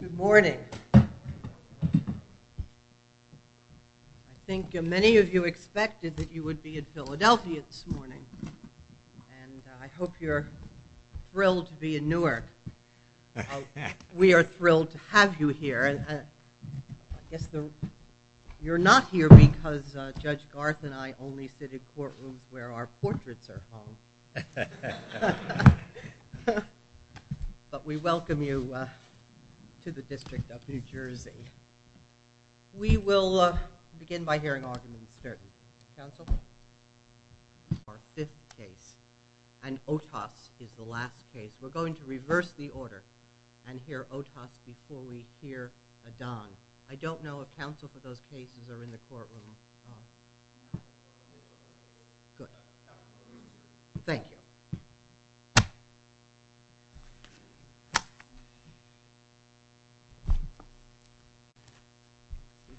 Good morning. I think many of you expected that you would be in Philadelphia this morning and I hope you're thrilled to be in Newark. We are thrilled to have you here. I guess you're not here because Judge Garth and I only sit in courtrooms where our portraits are hung. But we welcome you to the District of New Jersey. We will begin by hearing arguments. Our fifth case and Otas is the last case. We're going to reverse the order and hear Otas before we hear Adan. I don't know if counsel for those cases are in the courtroom. Good. Thank you.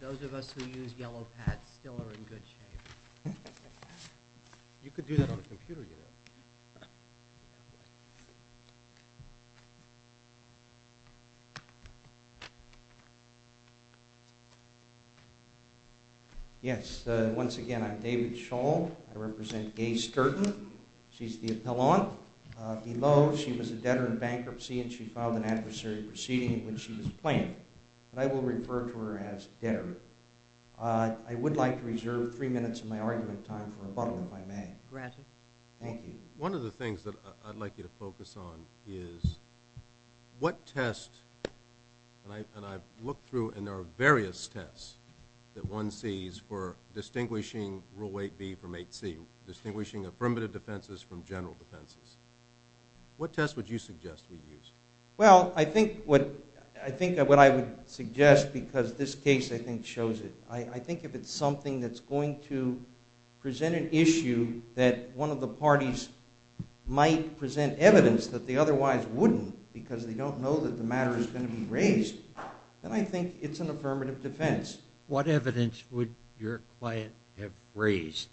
Those of us who use yellow pads still are in good shape. You could do that on a computer you know. Yes, once again I'm David Shull. I represent Gaye Sturton. She's the appellant. Below she was a debtor in bankruptcy and she filed an adversary proceeding in which she was playing. I will refer to her as debtor. I would like to reserve three minutes of my argument time for rebuttal if I may. One of the things that I'd like you to focus on is what test and I've looked through and there are various tests that one sees for distinguishing Rule 8B from 8C. Distinguishing affirmative defenses from general defenses. What test would you suggest we use? Well, I think what I would suggest because this case I think shows it. I think if it's something that's going to present an issue that one of the parties might present evidence that they otherwise wouldn't because they don't know that the matter is going to be raised, then I think it's an affirmative defense. What evidence would your client have raised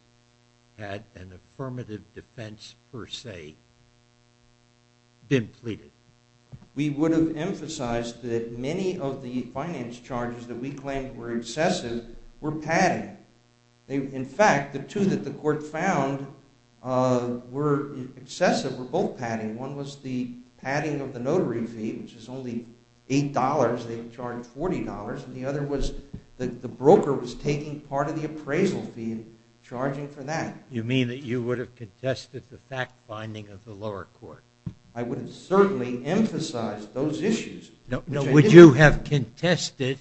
had an affirmative defense per se been pleaded? We would have emphasized that many of the finance charges that we claimed were excessive were padding. In fact, the two that the court found were excessive were both padding. One was the padding of the notary fee, which is only $8. They charged $40. The other was that the broker was taking part of the appraisal fee and charging for that. You mean that you would have contested the fact finding of the lower court? I would have certainly emphasized those issues. Would you have contested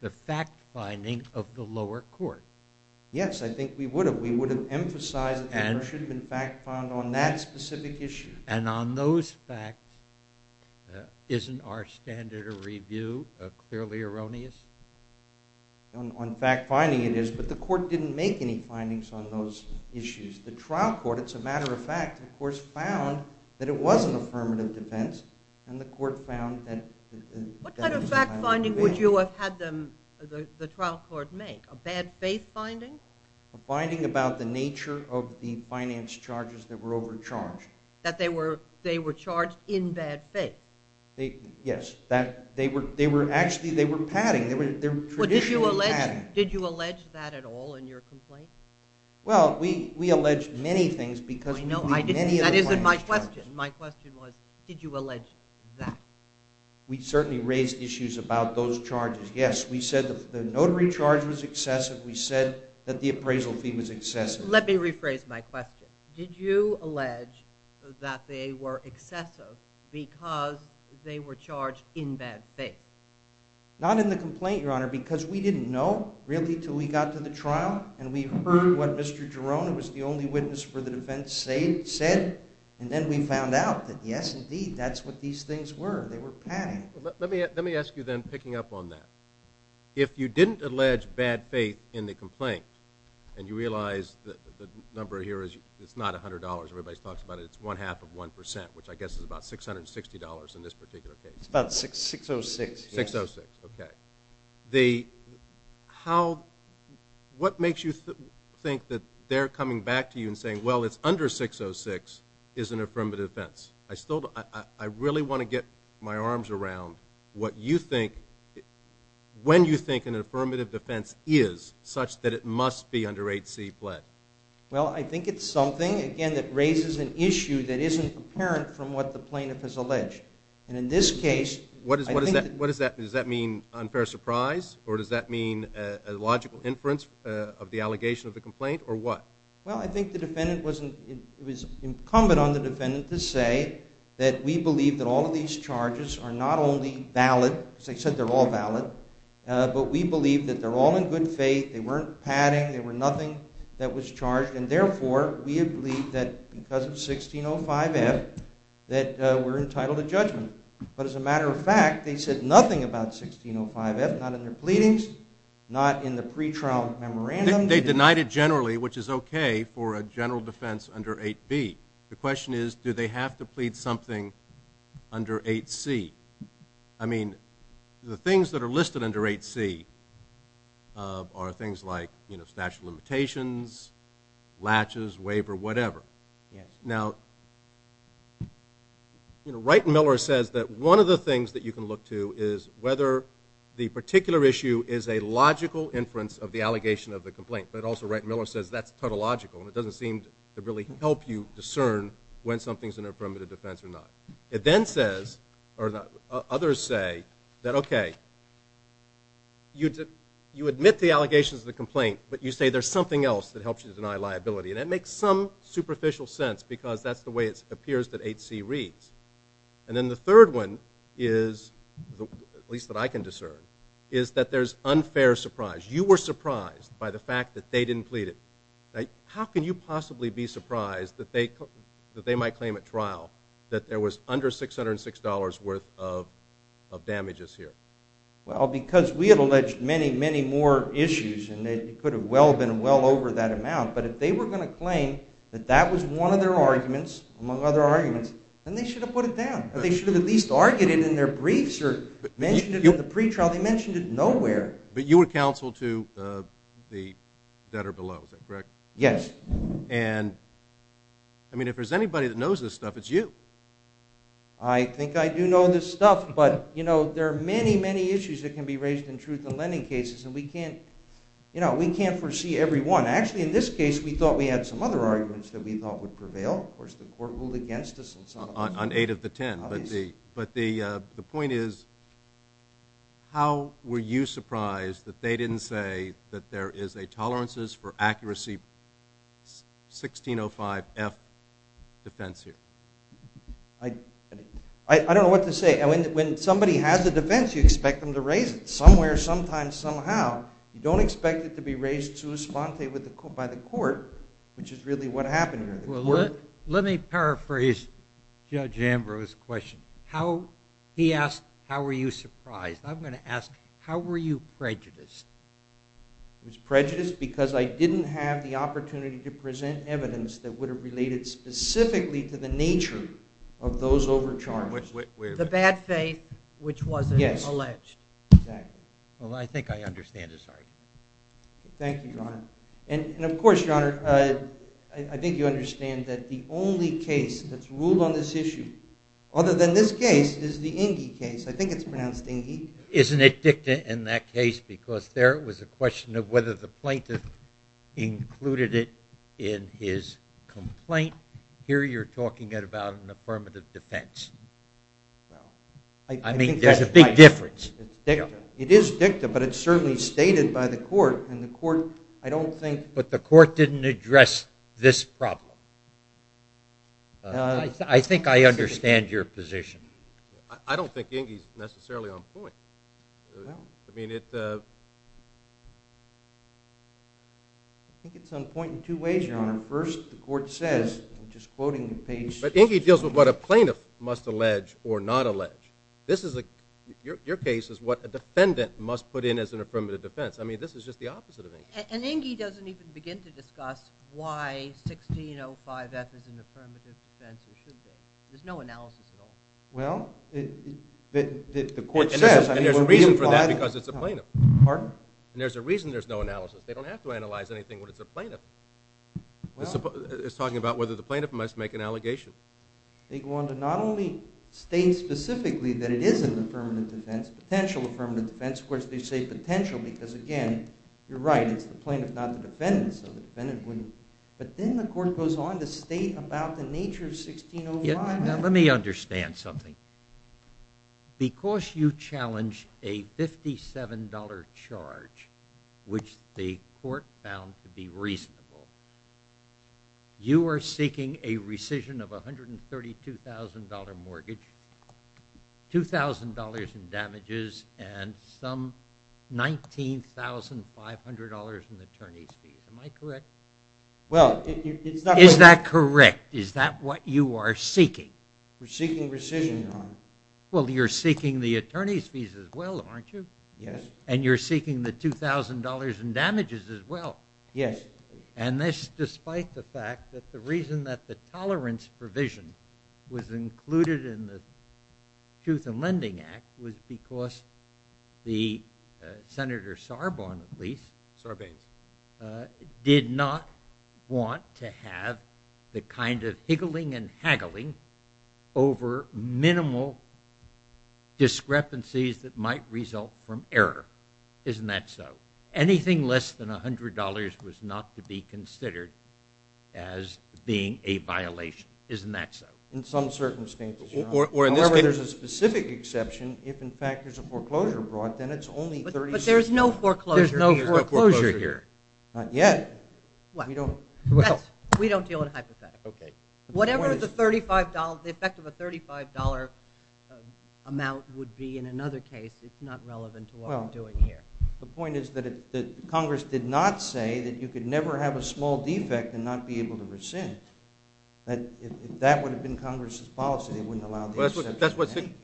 the fact finding of the lower court? Yes, I think we would have. We would have emphasized that there should have been fact found on that specific issue. And on those facts, isn't our standard of review clearly erroneous? On fact finding it is, but the court didn't make any findings on those issues. The trial court, as a matter of fact, of course found that it was an affirmative defense, and the court found that it was a matter of faith. What kind of fact finding would you have had the trial court make? A bad faith finding? A finding about the nature of the finance charges that were overcharged. That they were charged in bad faith? Yes. Actually, they were padding. They were traditionally padding. Did you allege that at all in your complaint? Well, we allege many things because we believe many of the finance charges. That isn't my question. My question was, did you allege that? We certainly raised issues about those charges. Yes, we said the notary charge was excessive. We said that the appraisal fee was excessive. Let me rephrase my question. Did you allege that they were excessive because they were charged in bad faith? Not in the complaint, Your Honor, because we didn't know, really, until we got to the trial. And we heard what Mr. Girona, who was the only witness for the defense, said. And then we found out that, yes, indeed, that's what these things were. They were padding. Let me ask you then, picking up on that. If you didn't allege bad faith in the complaint, and you realize the number here is not $100. Everybody talks about it. It's one-half of 1%, which I guess is about $660 in this particular case. It's about $606. $606, okay. What makes you think that they're coming back to you and saying, well, it's under $606 is an affirmative defense? I really want to get my arms around what you think, when you think an affirmative defense is such that it must be under 8C pled. Well, I think it's something, again, that raises an issue that isn't apparent from what the plaintiff has alleged. And in this case, I think that... What does that mean? Does that mean unfair surprise? Or does that mean a logical inference of the allegation of the complaint? Or what? Well, I think it was incumbent on the defendant to say that we believe that all of these charges are not only valid, because they said they're all valid, but we believe that they're all in good faith, they weren't padding, they were nothing that was charged, and therefore, we believe that because of 1605F, that we're entitled to judgment. But as a matter of fact, they said nothing about 1605F, not in their pleadings, not in the pretrial memorandum. They denied it generally, which is okay for a general defense under 8B. The question is, do they have to plead something under 8C? I mean, the things that are listed under 8C are things like, you know, statute of limitations, latches, waiver, whatever. Now, you know, Wright and Miller says that one of the things that you can look to is whether the particular issue is a logical inference of the allegation of the complaint. But also Wright and Miller says that's tautological, and it doesn't seem to really help you discern when something's in a primitive defense or not. It then says, or others say, that okay, you admit the allegations of the complaint, but you say there's something else that helps you deny liability. And that makes some superficial sense, because that's the way it appears that 8C reads. And then the third one is, at least that I can discern, is that there's unfair surprise. You were surprised by the fact that they didn't plead it. How can you possibly be surprised that they might claim at trial that there was under $606 worth of damages here? Well, because we had alleged many, many more issues, and it could have been well over that amount. But if they were going to claim that that was one of their arguments, among other arguments, then they should have put it down. They should have at least argued it in their briefs or mentioned it in the pretrial. They mentioned it nowhere. But you were counsel to the debtor below, is that correct? Yes. And, I mean, if there's anybody that knows this stuff, it's you. I think I do know this stuff. But, you know, there are many, many issues that can be raised in truth-in-lending cases, and we can't foresee every one. Actually, in this case, we thought we had some other arguments that we thought would prevail. Of course, the court ruled against us. On 8 of the 10. Obviously. But the point is, how were you surprised that they didn't say that there is a tolerances for accuracy 1605F defense here? I don't know what to say. When somebody has a defense, you expect them to raise it, somewhere, sometimes, somehow. You don't expect it to be raised sui sponte by the court, which is really what happened here. Let me paraphrase Judge Ambrose's question. He asked, how were you surprised? I'm going to ask, how were you prejudiced? I was prejudiced because I didn't have the opportunity to present evidence that would have related specifically to the nature of those overcharges. The bad faith, which wasn't alleged. Yes, exactly. Well, I think I understand it, sorry. Thank you, Your Honor. And of course, Your Honor, I think you understand that the only case that's ruled on this issue, other than this case, is the Ingee case. I think it's pronounced Ingee. Isn't it dicta in that case? Because there was a question of whether the plaintiff included it in his complaint. Here you're talking about an affirmative defense. Well, I think that's right. I mean, there's a big difference. It's dicta. It is dicta, but it's certainly stated by the court. But the court didn't address this problem. I think I understand your position. I don't think Ingee's necessarily on point. I think it's on point in two ways, Your Honor. First, the court says, I'm just quoting the page. But Ingee deals with what a plaintiff must allege or not allege. Your case is what a defendant must put in as an affirmative defense. I mean, this is just the opposite of Ingee. And Ingee doesn't even begin to discuss why 1605F is an affirmative defense or should be. There's no analysis at all. Well, the court says. And there's a reason for that because it's a plaintiff. Pardon? And there's a reason there's no analysis. They don't have to analyze anything when it's a plaintiff. It's talking about whether the plaintiff must make an allegation. They go on to not only state specifically that it is an affirmative defense, potential affirmative defense. Of course, they say potential because, again, you're right. It's the plaintiff, not the defendant. So the defendant wouldn't. But then the court goes on to state about the nature of 1605. Now, let me understand something. Because you challenge a $57 charge, which the court found to be reasonable, you are seeking a rescission of $132,000 mortgage, $2,000 in damages, and some $19,500 in attorney's fees. Am I correct? Well, it's not. Is that correct? Is that what you are seeking? We're seeking rescission, Your Honor. Well, you're seeking the attorney's fees as well, aren't you? Yes. And you're seeking the $2,000 in damages as well. Yes. And this despite the fact that the reason that the tolerance provision was the Senator Sarban, at least, Sarbanes, did not want to have the kind of higgling and haggling over minimal discrepancies that might result from error. Isn't that so? Anything less than $100 was not to be considered as being a violation. In some circumstances, Your Honor. However, there's a specific exception. If, in fact, there's a foreclosure brought, then it's only $36. But there's no foreclosure here. There's no foreclosure here. Not yet. We don't deal in hypotheticals. Whatever the effect of a $35 amount would be in another case, it's not relevant to what we're doing here. The point is that Congress did not say that you could never have a small defect and not be able to rescind. If that would have been Congress's policy, they wouldn't have allowed the exception.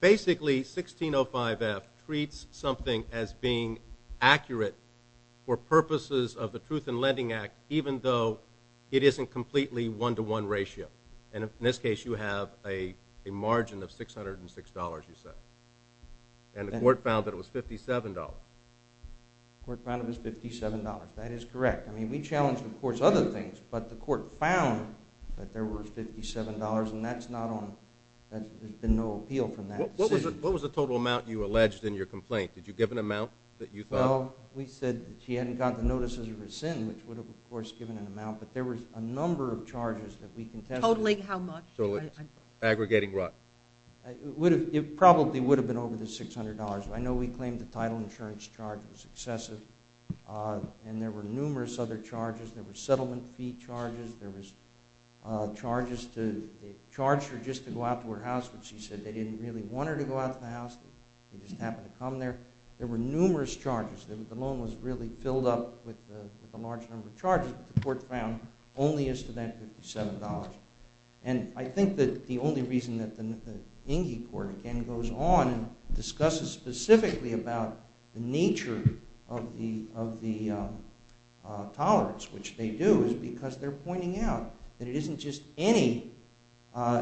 Basically, 1605F treats something as being accurate for purposes of the Truth in Lending Act, even though it isn't completely one-to-one ratio. And in this case, you have a margin of $606, you said. And the court found that it was $57. The court found it was $57. That is correct. I mean, we challenged, of course, other things, but the court found that there were $57. And that's not on the appeal from that decision. What was the total amount you alleged in your complaint? Did you give an amount that you thought? Well, we said that she hadn't gotten the notices of rescind, which would have, of course, given an amount. But there were a number of charges that we contested. Totaling how much? Aggregating what? It probably would have been over the $600. I know we claimed the title insurance charge was excessive, and there were numerous other charges. There were settlement fee charges. There was charges to charge her just to go out to her house, which she said they didn't really want her to go out to the house. They just happened to come there. There were numerous charges. The loan was really filled up with a large number of charges. The court found only as to that $57. And I think that the only reason that the Enge Court, again, goes on and discusses specifically about the nature of the tolerance, which they do, is because they're pointing out that it isn't just any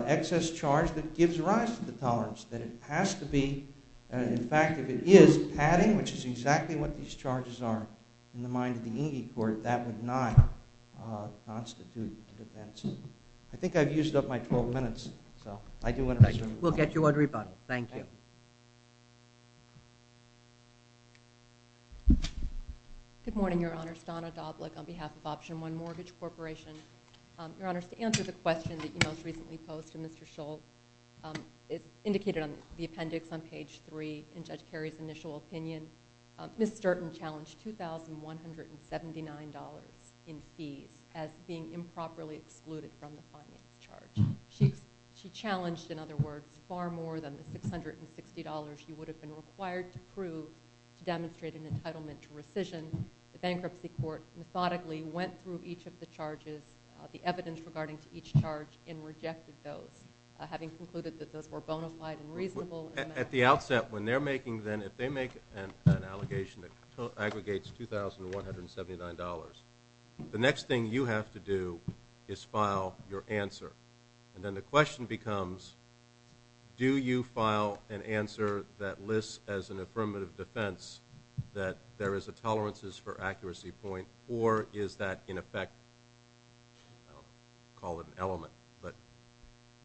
excess charge that gives rise to the tolerance, that it has to be. In fact, if it is padding, which is exactly what these charges are in the mind of the Enge Court, that would not constitute an offense. I think I've used up my 12 minutes. We'll get you a rebuttal. Thank you. Good morning, Your Honors. Donna Doblich on behalf of Option 1 Mortgage Corporation. Your Honors, to answer the question that you most recently posed to Mr. Schultz, it's indicated on the appendix on page 3 in Judge Carey's initial opinion. Ms. Sturton challenged $2,179 in fees as being improperly excluded from the fining charge. She challenged, in other words, far more than the $660 she would have been required to prove to demonstrate an entitlement to rescission. The Bankruptcy Court methodically went through each of the charges, the evidence regarding each charge, and rejected those, having concluded that those were bona fide and reasonable. At the outset, when they're making then, if they make an allegation that aggregates $2,179, the next thing you have to do is file your answer. And then the question becomes, do you file an answer that lists as an affirmative defense that there is a tolerances for accuracy point, or is that, in effect, I'll call it an element. But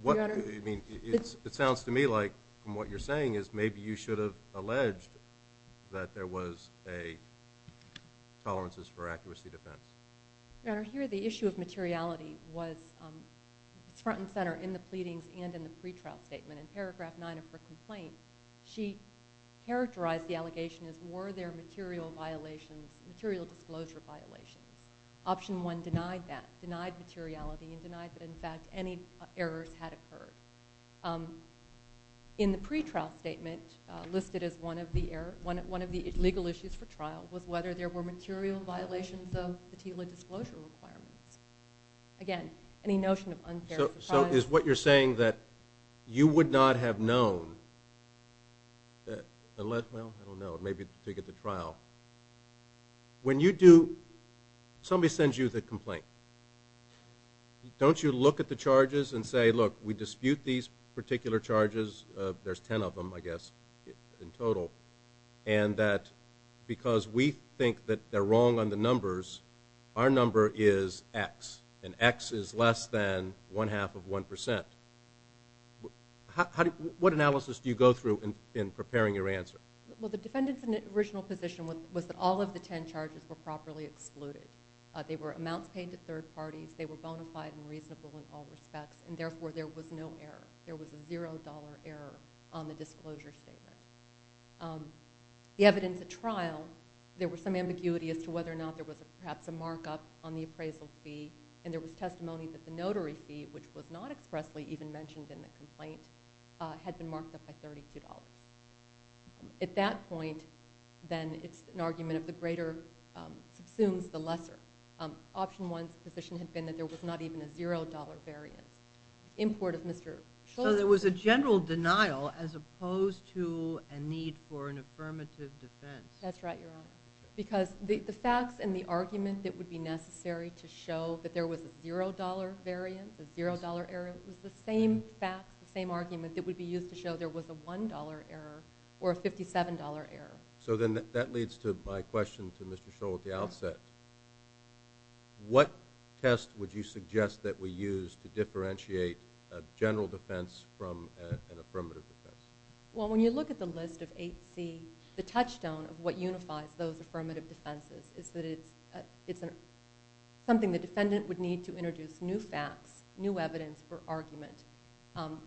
what do you mean? It sounds to me like, from what you're saying, is maybe you should have alleged that there was a tolerances for accuracy defense. Your Honor, here the issue of materiality was front and center in the pleadings and in the pretrial statement. In paragraph 9 of her complaint, she characterized the allegation as were there material violations, material disclosure violations. Option 1 denied that, denied materiality, and denied that, in fact, any errors had occurred. In the pretrial statement, listed as one of the legal issues for trial was whether there were material violations of the TILA disclosure requirements. Again, any notion of unfair... So is what you're saying that you would not have known, unless, well, I don't know, maybe to get to trial. When you do, somebody sends you the complaint. Don't you look at the charges and say, look, we dispute these particular charges, there's 10 of them, I guess, in total, and that because we think that they're wrong on the numbers, our number is X, and X is less than one-half of 1%. What analysis do you go through in preparing your answer? Well, the defendant's original position was that all of the 10 charges were properly excluded. They were amounts paid to third parties, they were bona fide and reasonable in all respects, and therefore there was no error. There was a $0 error on the disclosure statement. The evidence at trial, there was some ambiguity as to whether or not there was perhaps a markup on the appraisal fee, and there was testimony that the notary fee, which was not expressly even mentioned in the complaint, had been marked up by $32. At that point, then, it's an argument of the greater subsumes the lesser. Option one's position had been that there was not even a $0 variant. Import of Mr. Scholl's... So there was a general denial as opposed to a need for an affirmative defense. That's right, Your Honor, because the facts and the argument that would be necessary to show that there was a $0 variant, a $0 error, was the same facts, the same argument, that would be used to show there was a $1 error or a $57 error. So then that leads to my question to Mr. Scholl at the outset. What test would you suggest that we use to differentiate a general defense from an affirmative defense? Well, when you look at the list of 8C, the touchstone of what unifies those affirmative defenses is that it's something the defendant would need to introduce new facts, new evidence for argument.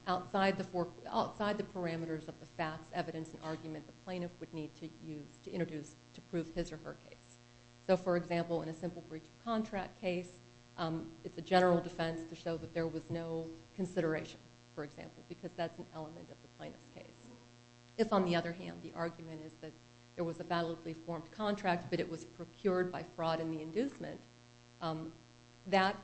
Outside the parameters of the facts, evidence, and argument the plaintiff would need to use to introduce to prove his or her case. So, for example, in a simple breach of contract case, it's a general defense to show that there was no consideration, for example, because that's an element of the plaintiff's case. If, on the other hand, the argument is that there was a validly formed contract but it was procured by fraud and the inducement, that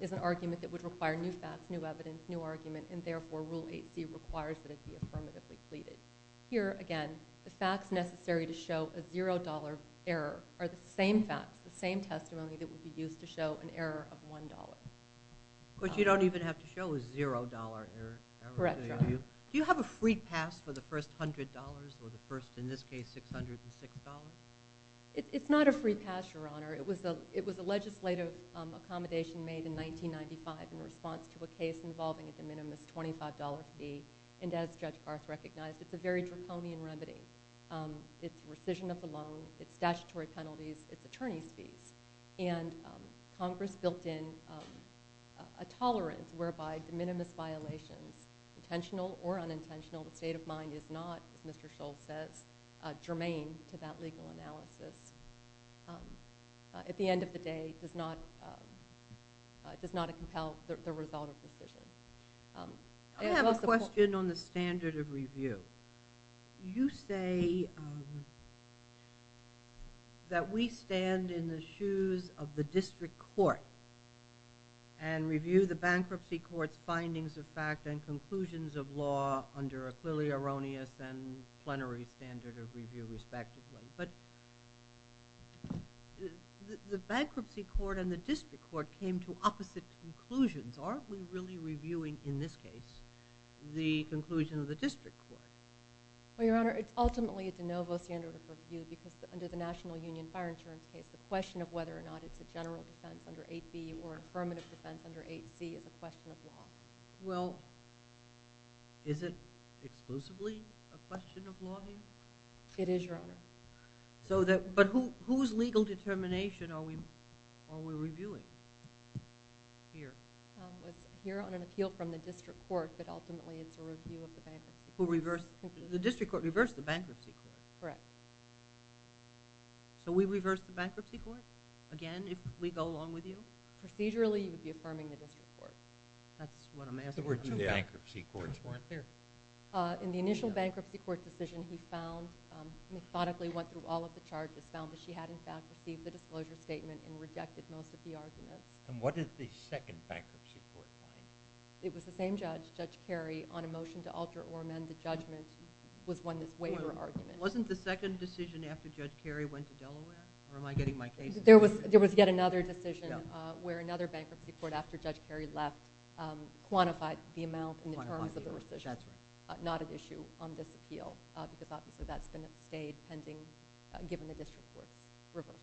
is an argument that would require new facts, new evidence, new argument, and therefore Rule 8C requires that it be affirmatively pleaded. Here, again, the facts necessary to show a $0 error are the same facts, the same testimony that would be used to show an error of $1. But you don't even have to show a $0 error, do you? Correct, Your Honor. Do you have a free pass for the first $100 or the first, in this case, $606? It's not a free pass, Your Honor. It was a legislative accommodation made in 1995 in response to a case involving a de minimis $25 fee, and as Judge Garth recognized, it's a very draconian remedy. It's rescission of the loan, it's statutory penalties, it's attorney's fees, and Congress built in a tolerance whereby de minimis violations, intentional or unintentional, the state of mind is not, as Mr. Scholl says, germane to that legal analysis, at the end of the day does not compel the result of rescission. I have a question on the standard of review. You say that we stand in the shoes of the district court and review the bankruptcy court's findings of fact and conclusions of law under a clearly erroneous and plenary standard of review, respectively. But the bankruptcy court and the district court came to opposite conclusions. Aren't we really reviewing, in this case, the conclusion of the district court? Well, Your Honor, it's ultimately a de novo standard of review because under the National Union Fire Insurance case, the question of whether or not it's a general defense under 8b or affirmative defense under 8c is a question of law. Well, is it exclusively a question of law here? It is, Your Honor. But whose legal determination are we reviewing here? It's here on an appeal from the district court, but ultimately it's a review of the bankruptcy court. The district court reversed the bankruptcy court? Correct. So we reverse the bankruptcy court again if we go along with you? Procedurally, you would be affirming the district court. That's what I'm asking. The bankruptcy courts weren't there. In the initial bankruptcy court decision, he found and methodically went through all of the charges, found that she had, in fact, received the disclosure statement and rejected most of the arguments. And what did the second bankruptcy court find? It was the same judge, Judge Carey, on a motion to alter or amend the judgment was one that's waiver argument. Wasn't the second decision after Judge Carey went to Delaware? Or am I getting my cases wrong? There was yet another decision where another bankruptcy court after Judge Carey left quantified the amount in terms of the decision. That's right. Not at issue on this appeal because obviously that's been at the state pending given the district court reversal.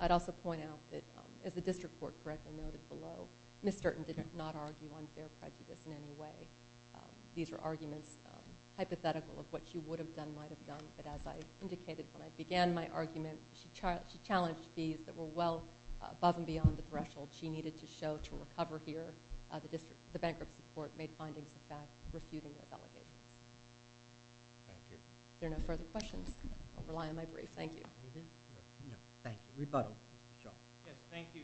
I'd also point out that as the district court correctly noted below, Ms. Sturton did not argue on fair prejudice in any way. These are arguments hypothetical of what she would have done, might have done. But as I indicated when I began my argument, she challenged these that were well above and beyond the threshold she needed to show to recover here. The bankruptcy court made findings about refuting the allegations. Thank you. If there are no further questions, I'll rely on my brief. Thank you. Thank you. Rebuttal. Yes, thank you.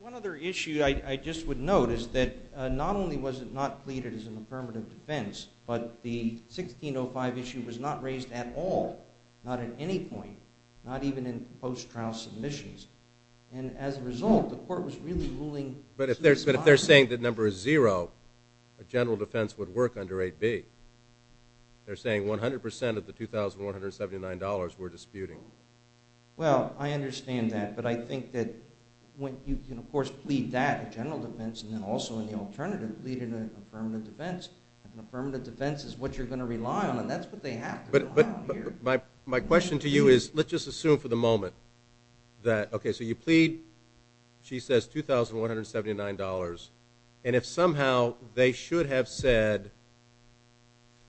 One other issue I just would note is that not only was it not pleaded as an affirmative defense, but the 1605 issue was not raised at all, not at any point, not even in post-trial submissions. And as a result, the court was really ruling. But if they're saying the number is zero, a general defense would work under 8B. They're saying 100% of the $2,179 were disputing. Well, I understand that. But I think that when you can, of course, plead that in general defense and then also in the alternative, plead in an affirmative defense. An affirmative defense is what you're going to rely on, and that's what they have to rely on here. But my question to you is let's just assume for the moment that, okay, so you plead, she says $2,179. And if somehow they should have said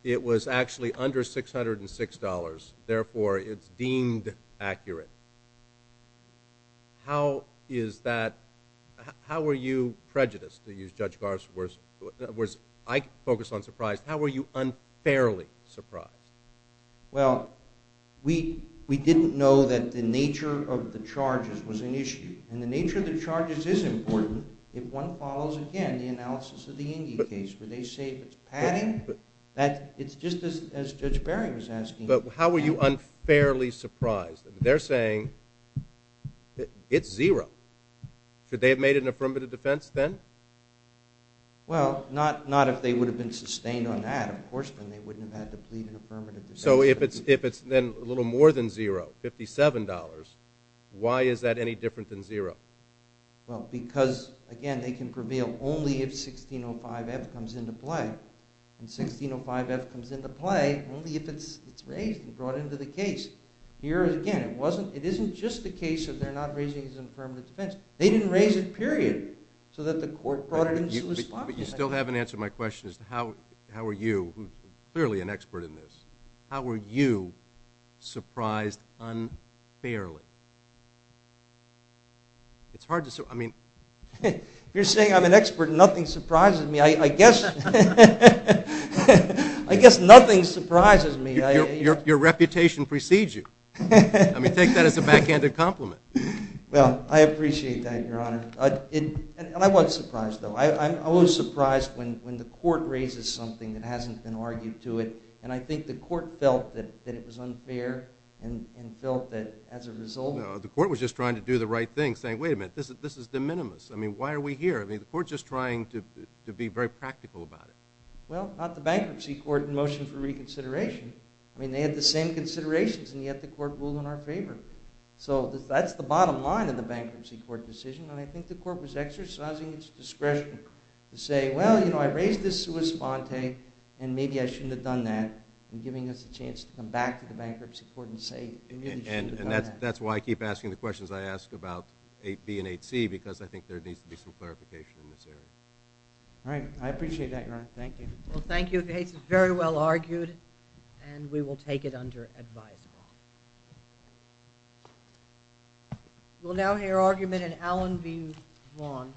it was actually under $606, therefore it's deemed accurate, how is that? How are you prejudiced, to use Judge Garve's words? I focus on surprise. How are you unfairly surprised? Well, we didn't know that the nature of the charges was an issue. And the nature of the charges is important. If one follows, again, the analysis of the Inge case, would they say if it's padding? It's just as Judge Barry was asking. But how are you unfairly surprised? They're saying it's zero. Should they have made it an affirmative defense then? Well, not if they would have been sustained on that, of course, then they wouldn't have had to plead an affirmative defense. So if it's then a little more than zero, $57, why is that any different than zero? Well, because, again, they can prevail only if 1605F comes into play. And 1605F comes into play only if it's raised and brought into the case. Here, again, it isn't just the case that they're not raising it as an affirmative defense. They didn't raise it, period, so that the court brought it into the spotlight. But you still haven't answered my question as to how are you, clearly an expert in this, how are you surprised unfairly? It's hard to say. If you're saying I'm an expert and nothing surprises me, I guess nothing surprises me. Your reputation precedes you. I mean, take that as a backhanded compliment. Well, I appreciate that, Your Honor. And I was surprised, though. I was surprised when the court raises something that hasn't been argued to it, and I think the court felt that it was unfair and felt that as a result... No, the court was just trying to do the right thing, saying, wait a minute, this is de minimis. I mean, why are we here? I mean, the court's just trying to be very practical about it. Well, not the Bankruptcy Court in motion for reconsideration. I mean, they had the same considerations, and yet the court ruled in our favor. So that's the bottom line of the Bankruptcy Court decision, and I think the court was exercising its discretion to say, well, you know, I raised this sua sponte, and maybe I shouldn't have done that, and giving us a chance to come back to the Bankruptcy Court and say... And that's why I keep asking the questions I ask about 8b and 8c, because I think there needs to be some clarification in this area. All right. I appreciate that, Your Honor. Thank you. Well, thank you. The case is very well argued, and we will take it under advised law. We'll now hear argument in Allen v. Vaughn.